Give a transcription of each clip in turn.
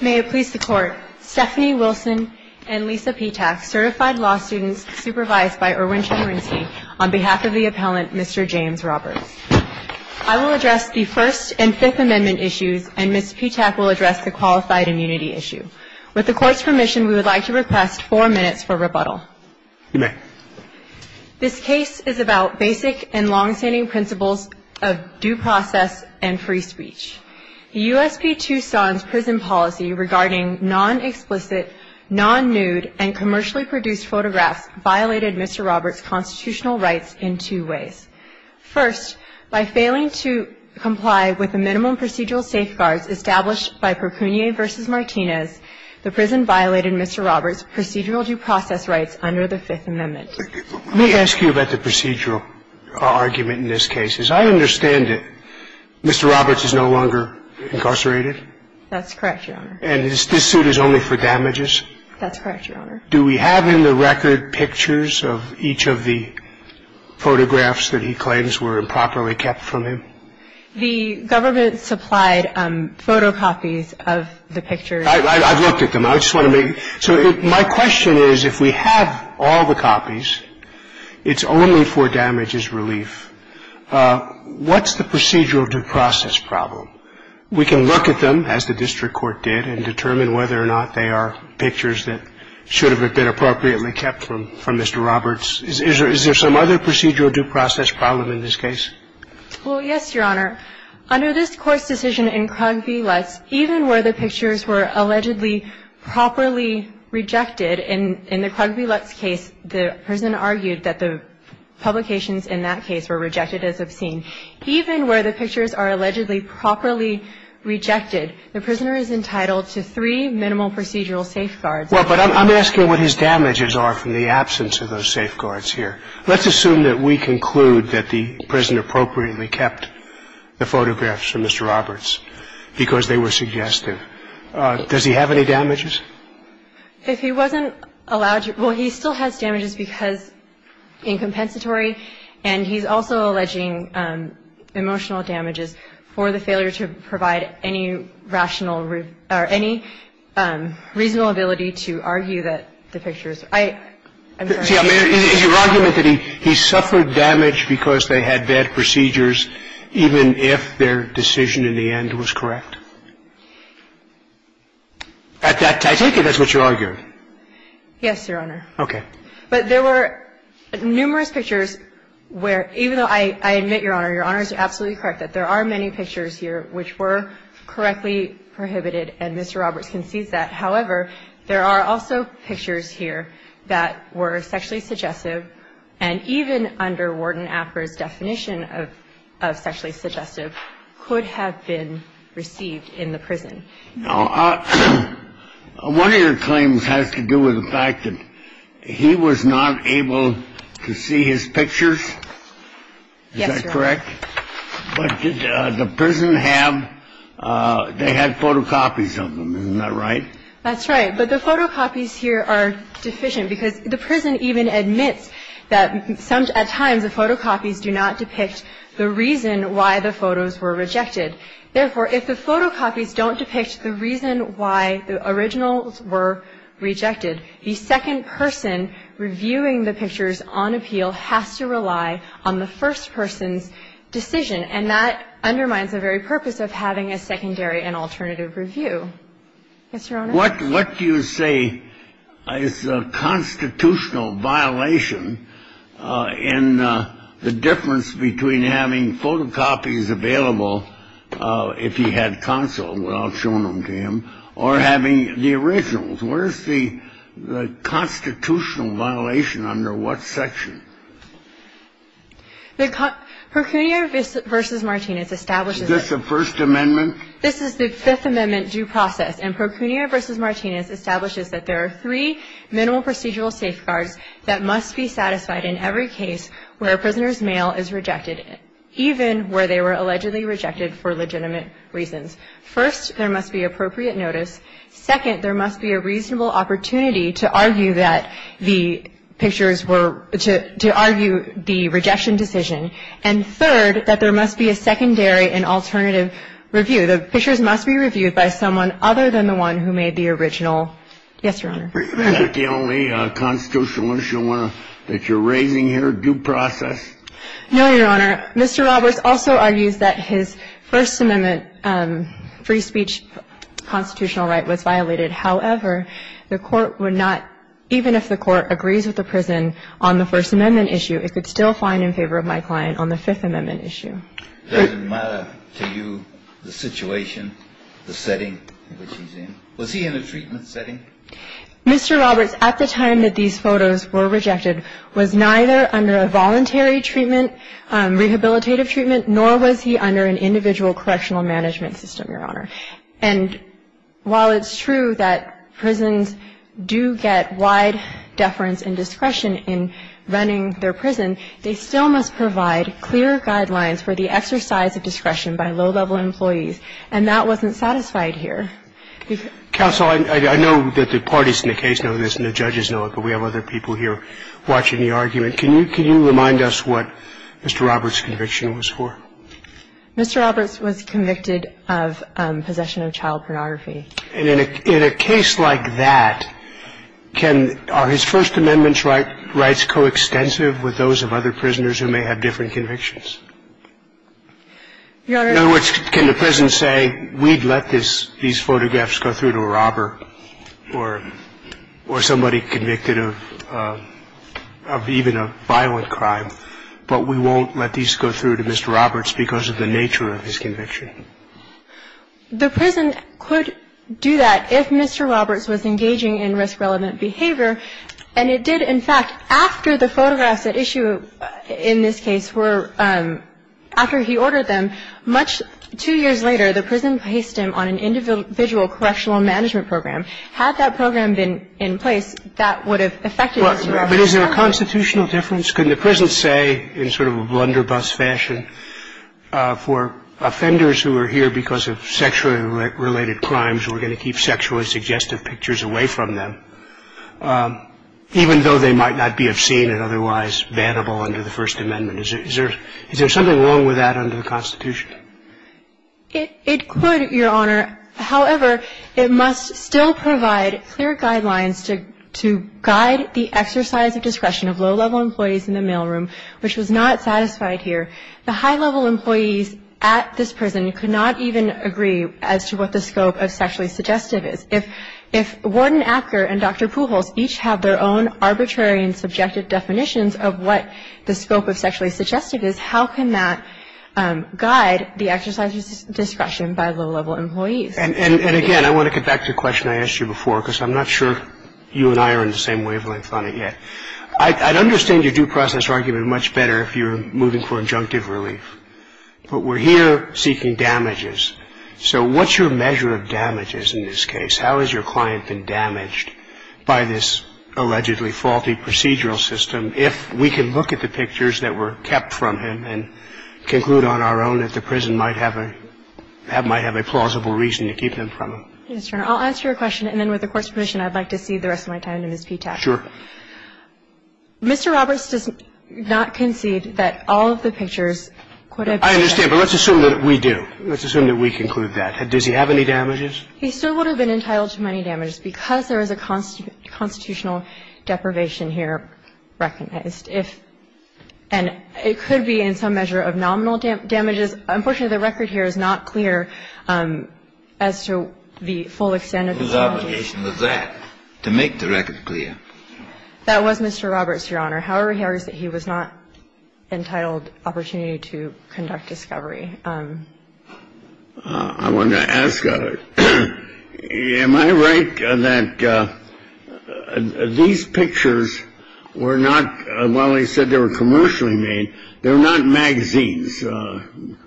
May it please the Court, Stephanie Wilson and Lisa Petak, certified law students supervised by Erwin Chemerinsky, on behalf of the appellant, Mr. James Roberts. I will address the First and Fifth Amendment issues, and Ms. Petak will address the Qualified Immunity issue. With the Court's permission, we would like to request four minutes for rebuttal. You may. This case is about basic and longstanding principles of due process and free speech. The USP Tucson's prison policy regarding non-explicit, non-nude, and commercially produced photographs violated Mr. Roberts' constitutional rights in two ways. First, by failing to comply with the minimum procedural safeguards established by Percunie v. Martinez, the prison violated Mr. Roberts' procedural due process rights under the Fifth Amendment. Let me ask you about the procedural argument in this case. I understand it. Mr. Roberts is no longer incarcerated? That's correct, Your Honor. And this suit is only for damages? That's correct, Your Honor. Do we have in the record pictures of each of the photographs that he claims were improperly kept from him? The government supplied photocopies of the pictures. I've looked at them. So my question is, if we have all the copies, it's only for damages relief. What's the procedural due process problem? We can look at them, as the district court did, and determine whether or not they are pictures that should have been appropriately kept from Mr. Roberts. Is there some other procedural due process problem in this case? Well, yes, Your Honor. Under this Court's decision in Krug v. Lutz, even where the pictures were allegedly properly rejected, in the Krug v. Lutz case, the prison argued that the publications in that case were rejected as obscene. Even where the pictures are allegedly properly rejected, the prisoner is entitled to three minimal procedural safeguards. Well, but I'm asking what his damages are from the absence of those safeguards here. Let's assume that we conclude that the prison appropriately kept the photographs from Mr. Roberts because they were suggestive. Does he have any damages? If he wasn't allowed to – well, he still has damages because, in compensatory and he's also alleging emotional damages for the failure to provide any rational or any reasonable ability to argue that the pictures are – I'm sorry. Is your argument that he suffered damage because they had bad procedures even if their decision in the end was correct? I take it that's what you're arguing. Yes, Your Honor. Okay. But there were numerous pictures where, even though I admit, Your Honor, Your Honor is absolutely correct that there are many pictures here which were correctly prohibited, and Mr. Roberts concedes that. If he wasn't allowed to provide any rational or any reasonable ability to argue that the pictures are sexually suggestive, and even under Warden Apper's definition of sexually suggestive, could have been received in the prison. Now, one of your claims has to do with the fact that he was not able to see his pictures. Is that correct? Yes, Your Honor. But did the prison have – they had photocopies of them. Isn't that right? That's right. But the photocopies here are deficient because the prison even admits that at times the photocopies do not depict the reason why the photos were rejected. Therefore, if the photocopies don't depict the reason why the originals were rejected, the second person reviewing the pictures on appeal has to rely on the first person's decision. And that undermines the very purpose of having a secondary and alternative review. Yes, Your Honor. What do you say is a constitutional violation in the difference between having photocopies available if he had counsel without showing them to him, or having the originals? Where is the constitutional violation? Under what section? Procunio v. Martinez establishes – Is this the First Amendment? This is the Fifth Amendment due process. And Procunio v. Martinez establishes that there are three minimal procedural safeguards that must be satisfied in every case where a prisoner's mail is rejected, even where they were allegedly rejected for legitimate reasons. First, there must be appropriate notice. Second, there must be a reasonable opportunity to argue that the pictures were – to argue the rejection decision. And third, that there must be a secondary and alternative review. The pictures must be reviewed by someone other than the one who made the original. Yes, Your Honor. Is that the only constitutional issue that you're raising here, due process? No, Your Honor. Mr. Roberts also argues that his First Amendment free speech constitutional right was violated. However, the Court would not – even if the Court agrees with the prison on the First Amendment issue, it could still find in favor of my client on the Fifth Amendment issue. Does it matter to you the situation, the setting in which he's in? Was he in a treatment setting? Mr. Roberts, at the time that these photos were rejected, was neither under a voluntary treatment, rehabilitative treatment, nor was he under an individual correctional management system, Your Honor. And while it's true that prisons do get wide deference and discretion in running their prison, they still must provide clear guidelines for the exercise of discretion by low-level employees. And that wasn't satisfied here. Counsel, I know that the parties in the case know this and the judges know it, but we have other people here watching the argument. Can you remind us what Mr. Roberts' conviction was for? Mr. Roberts was convicted of possession of child pornography. And in a case like that, can – are his First Amendment rights coextensive with those of other prisoners who may have different convictions? Your Honor – In other words, can the prison say, we'd let these photographs go through to a robber or somebody convicted of even a violent crime, but we won't let these go through to Mr. Roberts because of the nature of his conviction? The prison could do that if Mr. Roberts was engaging in risk-relevant behavior. And it did. In fact, after the photographs at issue in this case were – after he ordered them, much – two years later, the prison placed him on an individual correctional management program. Had that program been in place, that would have affected Mr. Roberts. But is there a constitutional difference? Could the prison say, in sort of a blunderbuss fashion, for offenders who are here because of sexually related crimes, we're going to keep sexually suggestive pictures away from them, even though they might not be obscene and otherwise bannable under the First Amendment? Is there – is there something wrong with that under the Constitution? It – it could, Your Honor. However, it must still provide clear guidelines to – to guide the exercise of discretion of low-level employees in the mailroom, which was not satisfied here. The high-level employees at this prison could not even agree as to what the scope of sexually suggestive is. If – if Warden Apker and Dr. Pujols each have their own arbitrary and subjective definitions of what the scope of sexually suggestive is, how can that guide the exercise of discretion by low-level employees? And – and again, I want to get back to a question I asked you before, because I'm not sure you and I are in the same wavelength on it yet. I – I'd understand your due process argument much better if you're moving for injunctive relief. But we're here seeking damages. So what's your measure of damages in this case? How has your client been damaged by this allegedly faulty procedural system? If we can look at the pictures that were kept from him and conclude on our own that the prison might have a – have – might have a plausible reason to keep them from him. Yes, Your Honor. I'll answer your question, and then with the Court's permission, I'd like to cede the rest of my time to Ms. Ptac. Sure. Mr. Roberts does not concede that all of the pictures could have been – I understand. But let's assume that we do. Let's assume that we conclude that. Does he have any damages? He still would have been entitled to many damages because there is a constitutional deprivation here recognized. If – and it could be in some measure of nominal damages. Unfortunately, the record here is not clear as to the full extent of the obligation. Whose obligation was that to make the record clear? That was Mr. Roberts, Your Honor. However, he argues that he was not entitled opportunity to conduct discovery. I wanted to ask, am I right that these pictures were not – while they said they were commercially made, they were not magazines,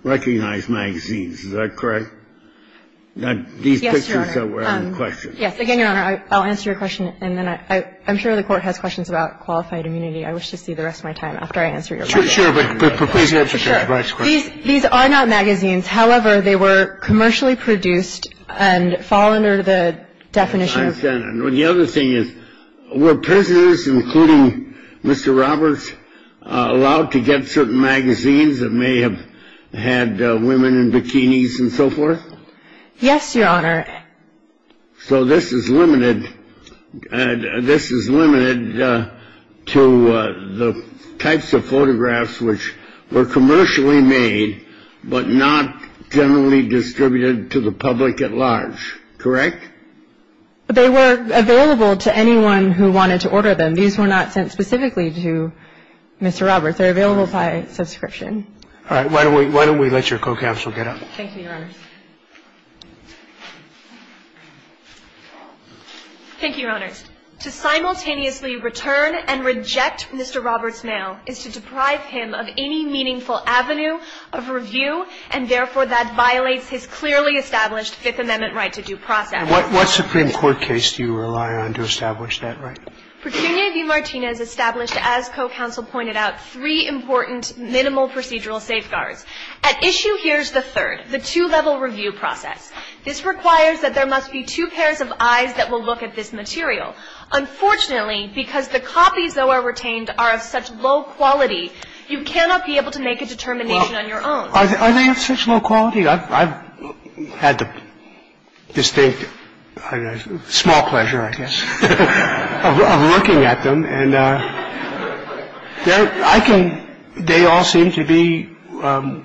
recognized magazines. Is that correct? Yes, Your Honor. These pictures that were out in question. Yes. Again, Your Honor, I'll answer your question, and then I'm sure the Court has questions about qualified immunity. I wish to cede the rest of my time after I answer your question. Sure. But proclaim your answer, Mr. Roberts. These are not magazines. However, they were commercially produced and fall under the definition. I understand. The other thing is, were prisoners, including Mr. Roberts, allowed to get certain magazines that may have had women in bikinis and so forth? Yes, Your Honor. So this is limited – this is limited to the types of photographs which were commercially made but not generally distributed to the public at large, correct? They were available to anyone who wanted to order them. These were not sent specifically to Mr. Roberts. They're available by subscription. All right. Why don't we let your co-counsel get up? Thank you, Your Honor. Thank you, Your Honor. To simultaneously return and reject Mr. Roberts' mail is to deprive him of any meaningful avenue of review, and therefore, that violates his clearly established Fifth Amendment right to due process. What Supreme Court case do you rely on to establish that right? Petunia v. Martinez established, as co-counsel pointed out, three important minimal procedural safeguards. The first one is the two-level review process. At issue here is the third, the two-level review process. This requires that there must be two pairs of eyes that will look at this material. Unfortunately, because the copies, though, are retained are of such low quality, you cannot be able to make a determination on your own. Well, are they of such low quality? I've had the distinct, small pleasure, I guess, of looking at them. And they all seem to be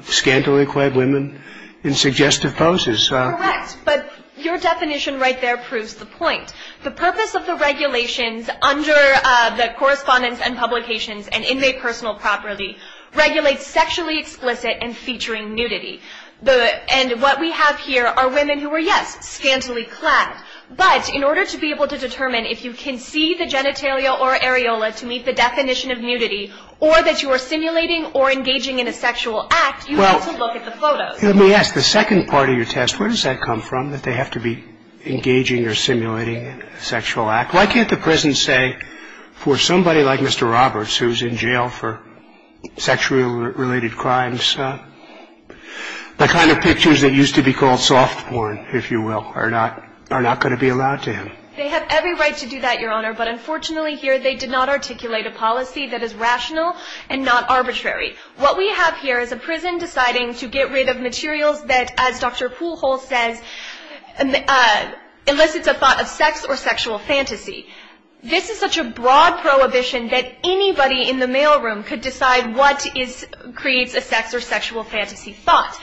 scantily clad women in suggestive poses. Correct. But your definition right there proves the point. The purpose of the regulations under the correspondence and publications and inmate personal property regulates sexually explicit and featuring nudity. And what we have here are women who are, yes, scantily clad. But in order to be able to determine if you can see the genitalia or areola to meet the definition of nudity or that you are simulating or engaging in a sexual act, you have to look at the photos. Let me ask. The second part of your test, where does that come from, that they have to be engaging or simulating a sexual act? Why can't the prison say for somebody like Mr. Roberts, who's in jail for sexually related crimes, the kind of pictures that used to be called soft porn, if you will, are not going to be allowed to him? They have every right to do that, Your Honor, but unfortunately here they did not articulate a policy that is rational and not arbitrary. What we have here is a prison deciding to get rid of materials that, as Dr. Poole Hall says, elicits a thought of sex or sexual fantasy. This is such a broad prohibition that anybody in the mail room could decide what creates a sex or sexual fantasy thought.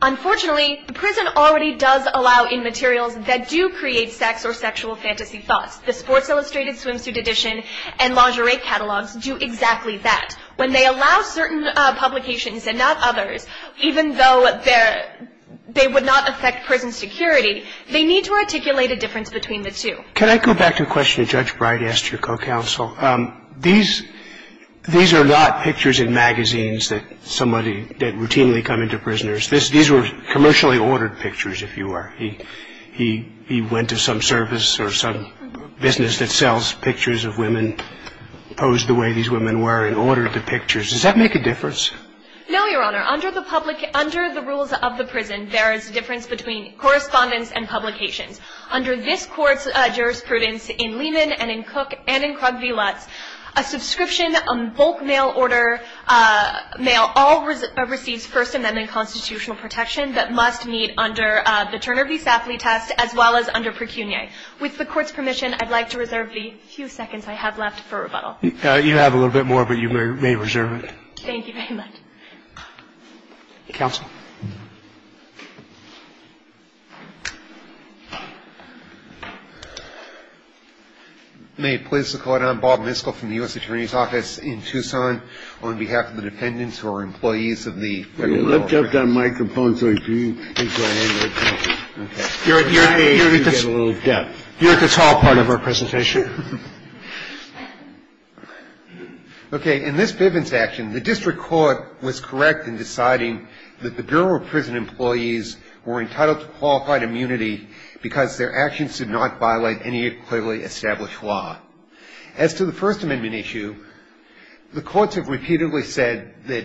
Unfortunately, the prison already does allow in materials that do create sex or sexual fantasy thoughts. The Sports Illustrated Swimsuit Edition and lingerie catalogs do exactly that. When they allow certain publications and not others, even though they would not affect prison security, they need to articulate a difference between the two. Can I go back to a question that Judge Bright asked your co-counsel? These are not pictures in magazines that somebody – that routinely come into prisoners. These were commercially ordered pictures, if you were. He went to some service or some business that sells pictures of women, posed the way these women were, and ordered the pictures. Does that make a difference? No, Your Honor. Under the rules of the prison, there is a difference between correspondence and publications. Under this Court's jurisprudence in Lehman and in Cook and in Krug v. Lutz, a subscription, a bulk mail order mail, all receives First Amendment constitutional protection that must meet under the Turner v. Safley test, as well as under Precunie. With the Court's permission, I'd like to reserve the few seconds I have left for rebuttal. You have a little bit more, but you may reserve it. Thank you very much. Counsel. May it please the Court. I'm Bob Miskell from the U.S. Attorney's Office in Tucson. On behalf of the dependents who are employees of the Federal Law Firm. You're at the tall part of our presentation. Okay. In this Bivens action, the district court was correct in deciding that the Bureau of Prison Employees were entitled to qualified immunity because their actions did not violate any clearly established law. As to the First Amendment issue, the courts have repeatedly said that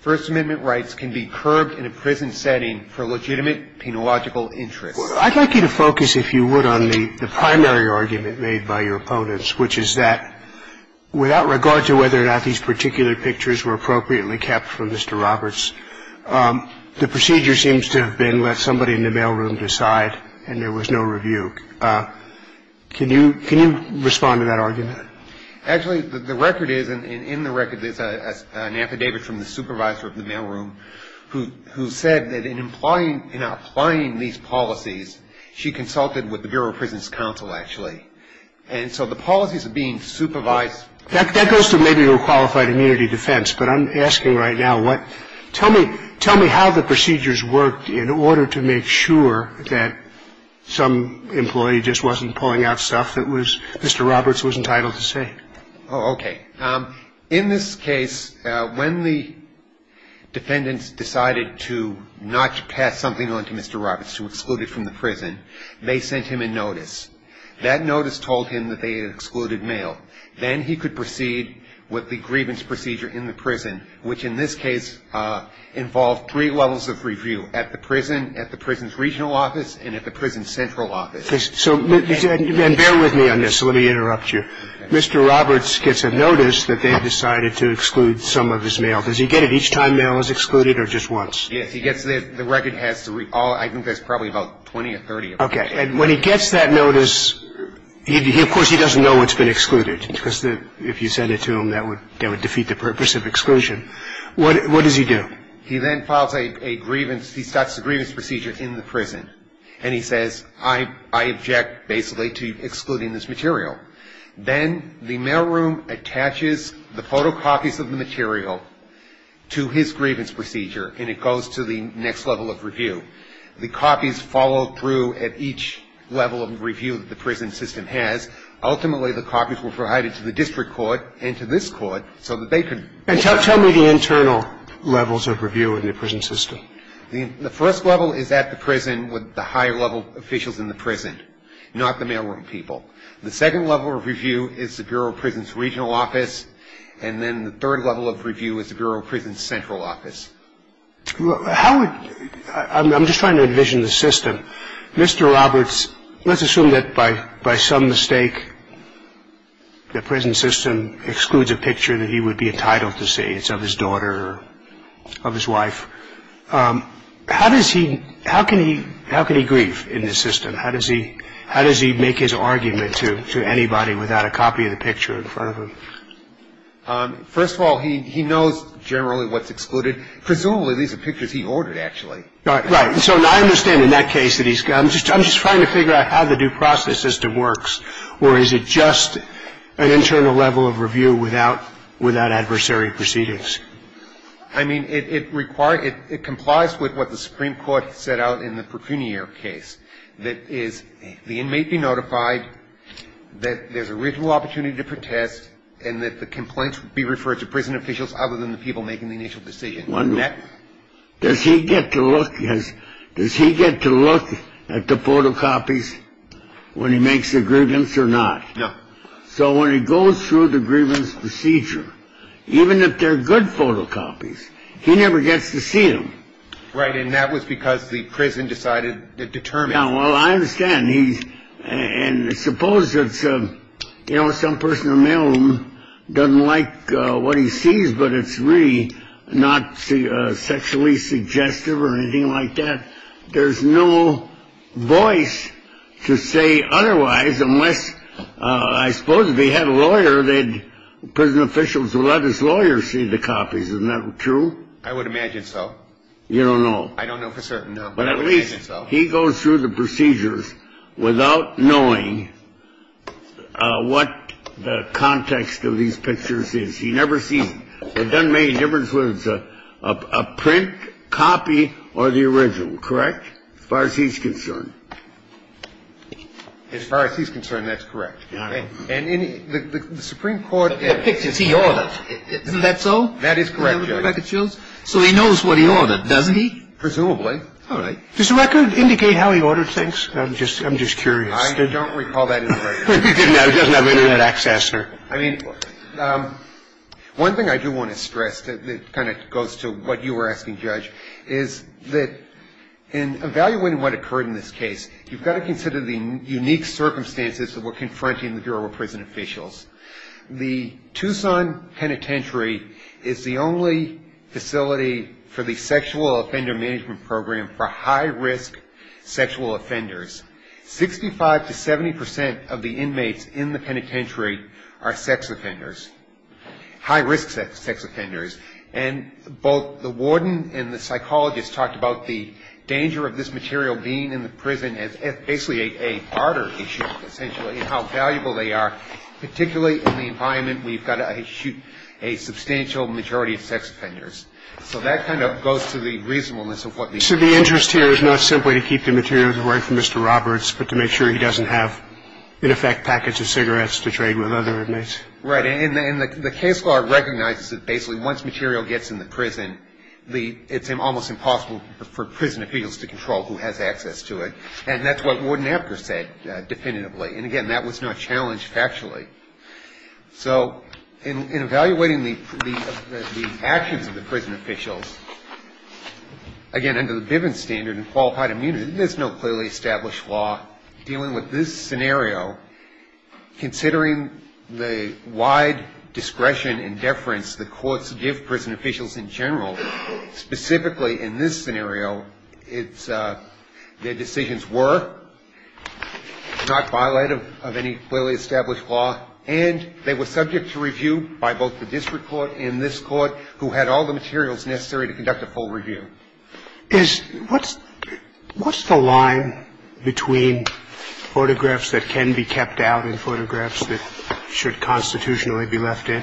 First Amendment rights can be curbed in a prison setting for legitimate penological interests. I'd like you to focus, if you would, on the primary argument made by your opponents, which is that without regard to whether or not these particular pictures were appropriately kept from Mr. Roberts, the procedure seems to have been let somebody in the mailroom decide and there was no review. Can you respond to that argument? Actually, the record is, and in the record is an affidavit from the supervisor of the mailroom who said that in employing, in applying these policies, she consulted with the Bureau of Prison's counsel, actually. And so the policies are being supervised. That goes to maybe your qualified immunity defense, but I'm asking right now what, tell me, tell me how the procedures worked in order to make sure that some employee just wasn't pulling out stuff that Mr. Roberts was entitled to say. Okay. In this case, when the defendants decided to not pass something on to Mr. Roberts, to exclude him from the prison, they sent him a notice. That notice told him that they had excluded mail. Then he could proceed with the grievance procedure in the prison, which in this case involved three levels of review, at the prison, at the prison's regional office, and at the prison's central office. So bear with me on this. Let me interrupt you. Mr. Roberts gets a notice that they have decided to exclude some of his mail. Does he get it each time mail is excluded or just once? Yes. He gets it. The record has to read all of it. I think there's probably about 20 or 30 of them. Okay. And when he gets that notice, of course, he doesn't know it's been excluded, because if you sent it to him, that would defeat the purpose of exclusion. What does he do? He then files a grievance. He starts the grievance procedure in the prison, and he says, I object basically to excluding this material. Then the mailroom attaches the photocopies of the material to his grievance procedure, and it goes to the next level of review. The copies follow through at each level of review that the prison system has. Ultimately, the copies were provided to the district court and to this court so that they could be excluded. And tell me the internal levels of review in the prison system. The first level is at the prison with the higher-level officials in the prison, not the mailroom people. The second level of review is the Bureau of Prisons' regional office, and then the third level of review is the Bureau of Prisons' central office. I'm just trying to envision the system. Mr. Roberts, let's assume that by some mistake, the prison system excludes a picture that he would be entitled to see. It's of his daughter or of his wife. How can he grieve in this system? How does he make his argument to anybody without a copy of the picture in front of him? First of all, he knows generally what's excluded. Presumably, these are pictures he ordered, actually. Right. So I understand in that case that he's got them. I'm just trying to figure out how the due process system works. Or is it just an internal level of review without adversary proceedings? I mean, it requires ‑‑ it complies with what the Supreme Court set out in the first instance. The first instance is the inmate be notified that there's a reasonable opportunity to protest and that the complaints be referred to prison officials other than the people making the initial decision. Does he get to look at the photocopies when he makes the grievance or not? No. So when he goes through the grievance procedure, even if they're good photocopies, he never gets to see them. Right. And that was because the prison decided to determine. Yeah, well, I understand. And suppose it's, you know, some person in the middle doesn't like what he sees, but it's really not sexually suggestive or anything like that. There's no voice to say otherwise unless, I suppose, if he had a lawyer, the prison officials would let his lawyer see the copies. Isn't that true? I would imagine so. You don't know. I don't know for certain, no. But at least he goes through the procedures without knowing what the context of these pictures is. He never sees them. It doesn't make a difference whether it's a print, copy, or the original. Correct? As far as he's concerned. As far as he's concerned, that's correct. All right. And the Supreme Court ‑‑ The pictures, he orders. Isn't that so? That is correct, Judge. So he knows what he ordered, doesn't he? Presumably. All right. Does the record indicate how he ordered things? I'm just curious. I don't recall that in the record. He doesn't have internet access, sir. I mean, one thing I do want to stress that kind of goes to what you were asking, Judge, is that in evaluating what occurred in this case, you've got to consider the unique circumstances that were confronting the Bureau of Prison Officials. The Tucson Penitentiary is the only facility for the Sexual Offender Management Program for high‑risk sexual offenders. Sixty‑five to 70% of the inmates in the penitentiary are sex offenders, high‑risk sex offenders. And both the warden and the psychologist talked about the danger of this material being in the prison as basically a barter issue, essentially, and how valuable they are, particularly in the environment where you've got to shoot a substantial majority of sex offenders. So that kind of goes to the reasonableness of what the ‑‑ So the interest here is not simply to keep the materials away from Mr. Roberts, but to make sure he doesn't have, in effect, packages of cigarettes to trade with other inmates. Right. And the case law recognizes that basically once material gets in the prison, it's almost impossible for prison appeals to control who has access to it. And that's what Warden Apter said definitively. And, again, that was not challenged factually. So in evaluating the actions of the prison officials, again, under the Bivens standard and qualified immunity, there's no clearly established law dealing with this scenario. Considering the wide discretion and deference the courts give prison officials in general, specifically in this scenario, it's ‑‑ their decisions were not violated of any clearly established law, and they were subject to review by both the district court and this court, who had all the materials necessary to conduct a full review. Is ‑‑ what's the line between photographs that can be kept out and photographs that should constitutionally be left in?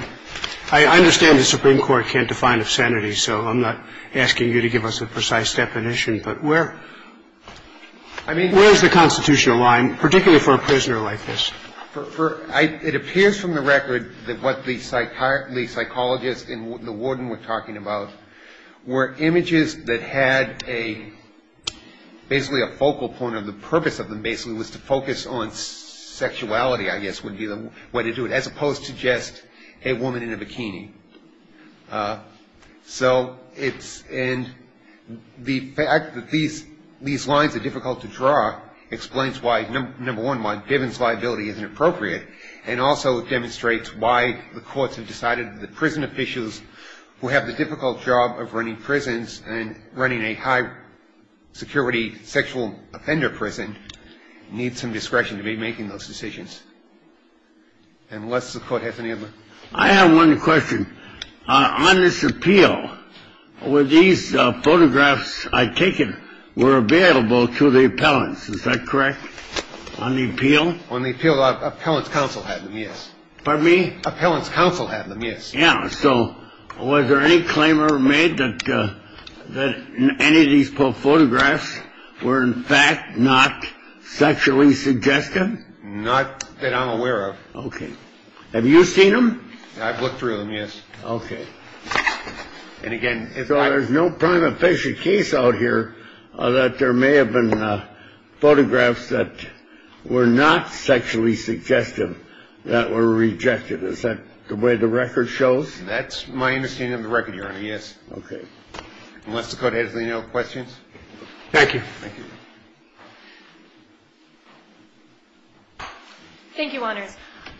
I understand the Supreme Court can't define obscenity, so I'm not asking you to give us a precise definition. But where is the constitutional line, particularly for a prisoner like this? It appears from the record that what the psychologists and the warden were talking about were images that had a ‑‑ basically a focal point, or the purpose of them basically was to focus on sexuality, I guess would be the way to do it, as opposed to just a woman in a bikini. So it's ‑‑ and the fact that these lines are difficult to draw explains why, number one, why Bivens liability isn't appropriate, and also it demonstrates why the courts have decided that prison officials who have the difficult job of running prisons and running a high‑security sexual offender prison need some discretion to be making those decisions. Unless the court has any other ‑‑ I have one question. On this appeal, were these photographs I've taken were available to the appellants? Is that correct? On the appeal? On the appeal, the appellant's counsel had them, yes. Pardon me? Appellant's counsel had them, yes. Yeah. So was there any claim ever made that any of these photographs were in fact not sexually suggestive? Not that I'm aware of. Okay. Have you seen them? I've looked through them, yes. Okay. And again, if I ‑‑ So there's no prime official case out here that there may have been photographs that were not sexually suggestive that were rejected. Is that the way the record shows? That's my understanding of the record, Your Honor, yes. Okay. Unless the court has any other questions. Thank you. Thank you. Thank you, Your Honor.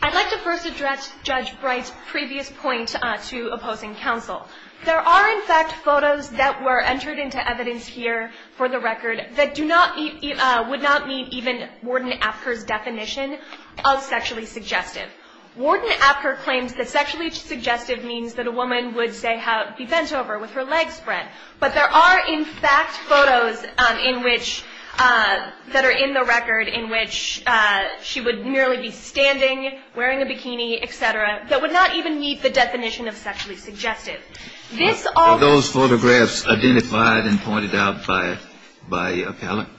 I'd like to first address Judge Bright's previous point to opposing counsel. There are, in fact, photos that were entered into evidence here for the record that do not ‑‑ would not meet even Warden Apker's definition of sexually suggestive. Warden Apker claims that sexually suggestive means that a woman would, say, be bent over with her legs spread. But there are, in fact, photos in which ‑‑ that are in the record in which she would merely be standing, wearing a bikini, et cetera, that would not even meet the definition of sexually suggestive. Are those photographs identified and pointed out by Appellant?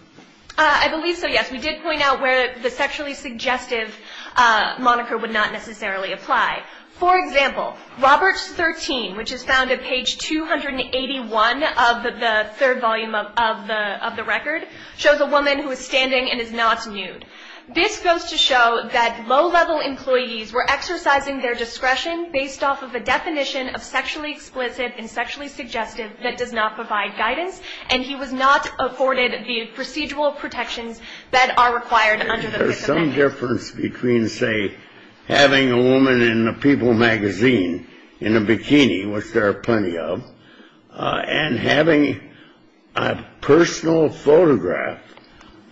I believe so, yes. We did point out where the sexually suggestive moniker would not necessarily apply. For example, Roberts 13, which is found at page 281 of the third volume of the record, shows a woman who is standing and is not nude. This goes to show that low‑level employees were exercising their discretion based off of a definition of sexually explicit and sexually suggestive that does not provide guidance, and he was not afforded the procedural protections that are required under the Fifth Amendment. Is there a difference between, say, having a woman in a People magazine in a bikini, which there are plenty of, and having a personal photograph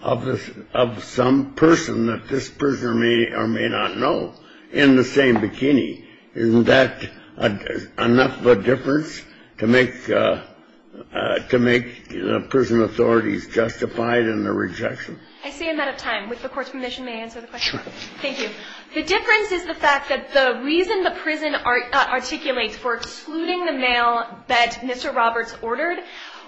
of some person that this prisoner may or may not know in the same bikini? Isn't that enough of a difference to make the prison authorities justified in the rejection? I see I'm out of time. With the Court's permission, may I answer the question? Sure. Thank you. The difference is the fact that the reason the prison articulates for excluding the male that Mr. Roberts ordered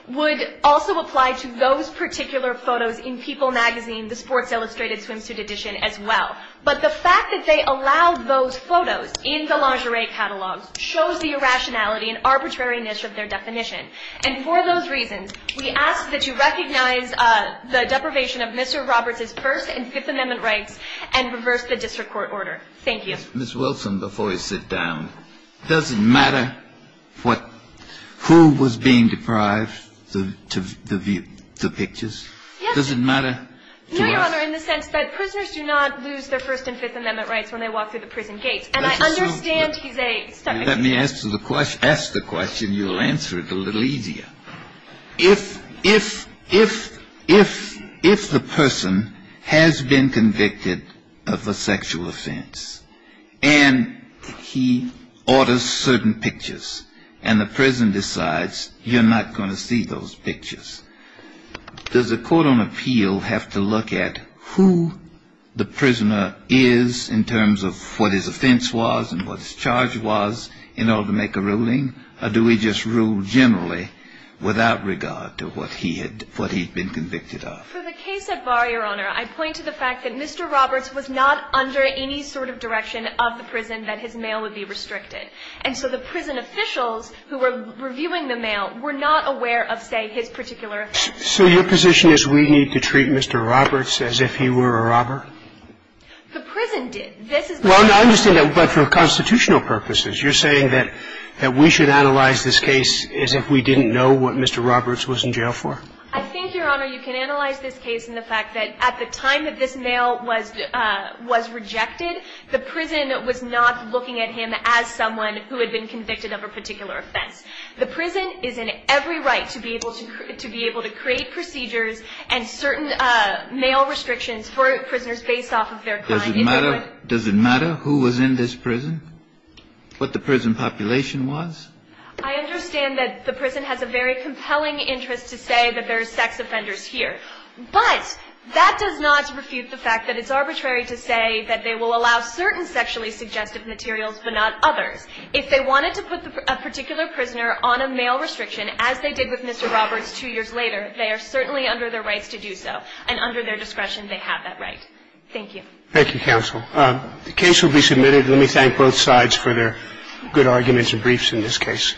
would also apply to those particular photos in People magazine, the sports illustrated swimsuit edition as well. But the fact that they allowed those photos in the lingerie catalog shows the irrationality and arbitrariness of their definition. And for those reasons, we ask that you recognize the deprivation of Mr. Roberts's First and Fifth Amendment rights and reverse the district court order. Thank you. Ms. Wilson, before you sit down, does it matter what – who was being deprived to view the pictures? Yes. Does it matter to us? No, Your Honor, in the sense that prisoners do not lose their First and Fifth Amendment rights when they walk through the prison gates. And I understand he's a – Let me ask the question. You'll answer it a little easier. If the person has been convicted of a sexual offense and he orders certain pictures and the prison decides you're not going to see those pictures, does the court on appeal have to look at who the prisoner is in terms of what his offense was and what his charge was in order to make a ruling? Or do we just rule generally without regard to what he had – what he'd been convicted of? For the case at bar, Your Honor, I point to the fact that Mr. Roberts was not under any sort of direction of the prison that his mail would be restricted. And so the prison officials who were reviewing the mail were not aware of, say, his particular offense. So your position is we need to treat Mr. Roberts as if he were a robber? The prison did. This is – Well, I understand that, but for constitutional purposes, you're saying that we should analyze this case as if we didn't know what Mr. Roberts was in jail for? I think, Your Honor, you can analyze this case in the fact that at the time that this mail was rejected, the prison was not looking at him as someone who had been convicted of a particular offense. The prison is in every right to be able to – to be able to create procedures and certain mail restrictions for prisoners based off of their crime. Does it matter – does it matter who was in this prison, what the prison population was? I understand that the prison has a very compelling interest to say that there are sex offenders here. But that does not refute the fact that it's arbitrary to say that they will allow certain sexually suggestive materials but not others. If they wanted to put a particular prisoner on a mail restriction, as they did with Mr. Roberts two years later, they are certainly under their rights to do so. And under their discretion, they have that right. Thank you. Thank you, counsel. The case will be submitted. Let me thank both sides for their good arguments and briefs in this case.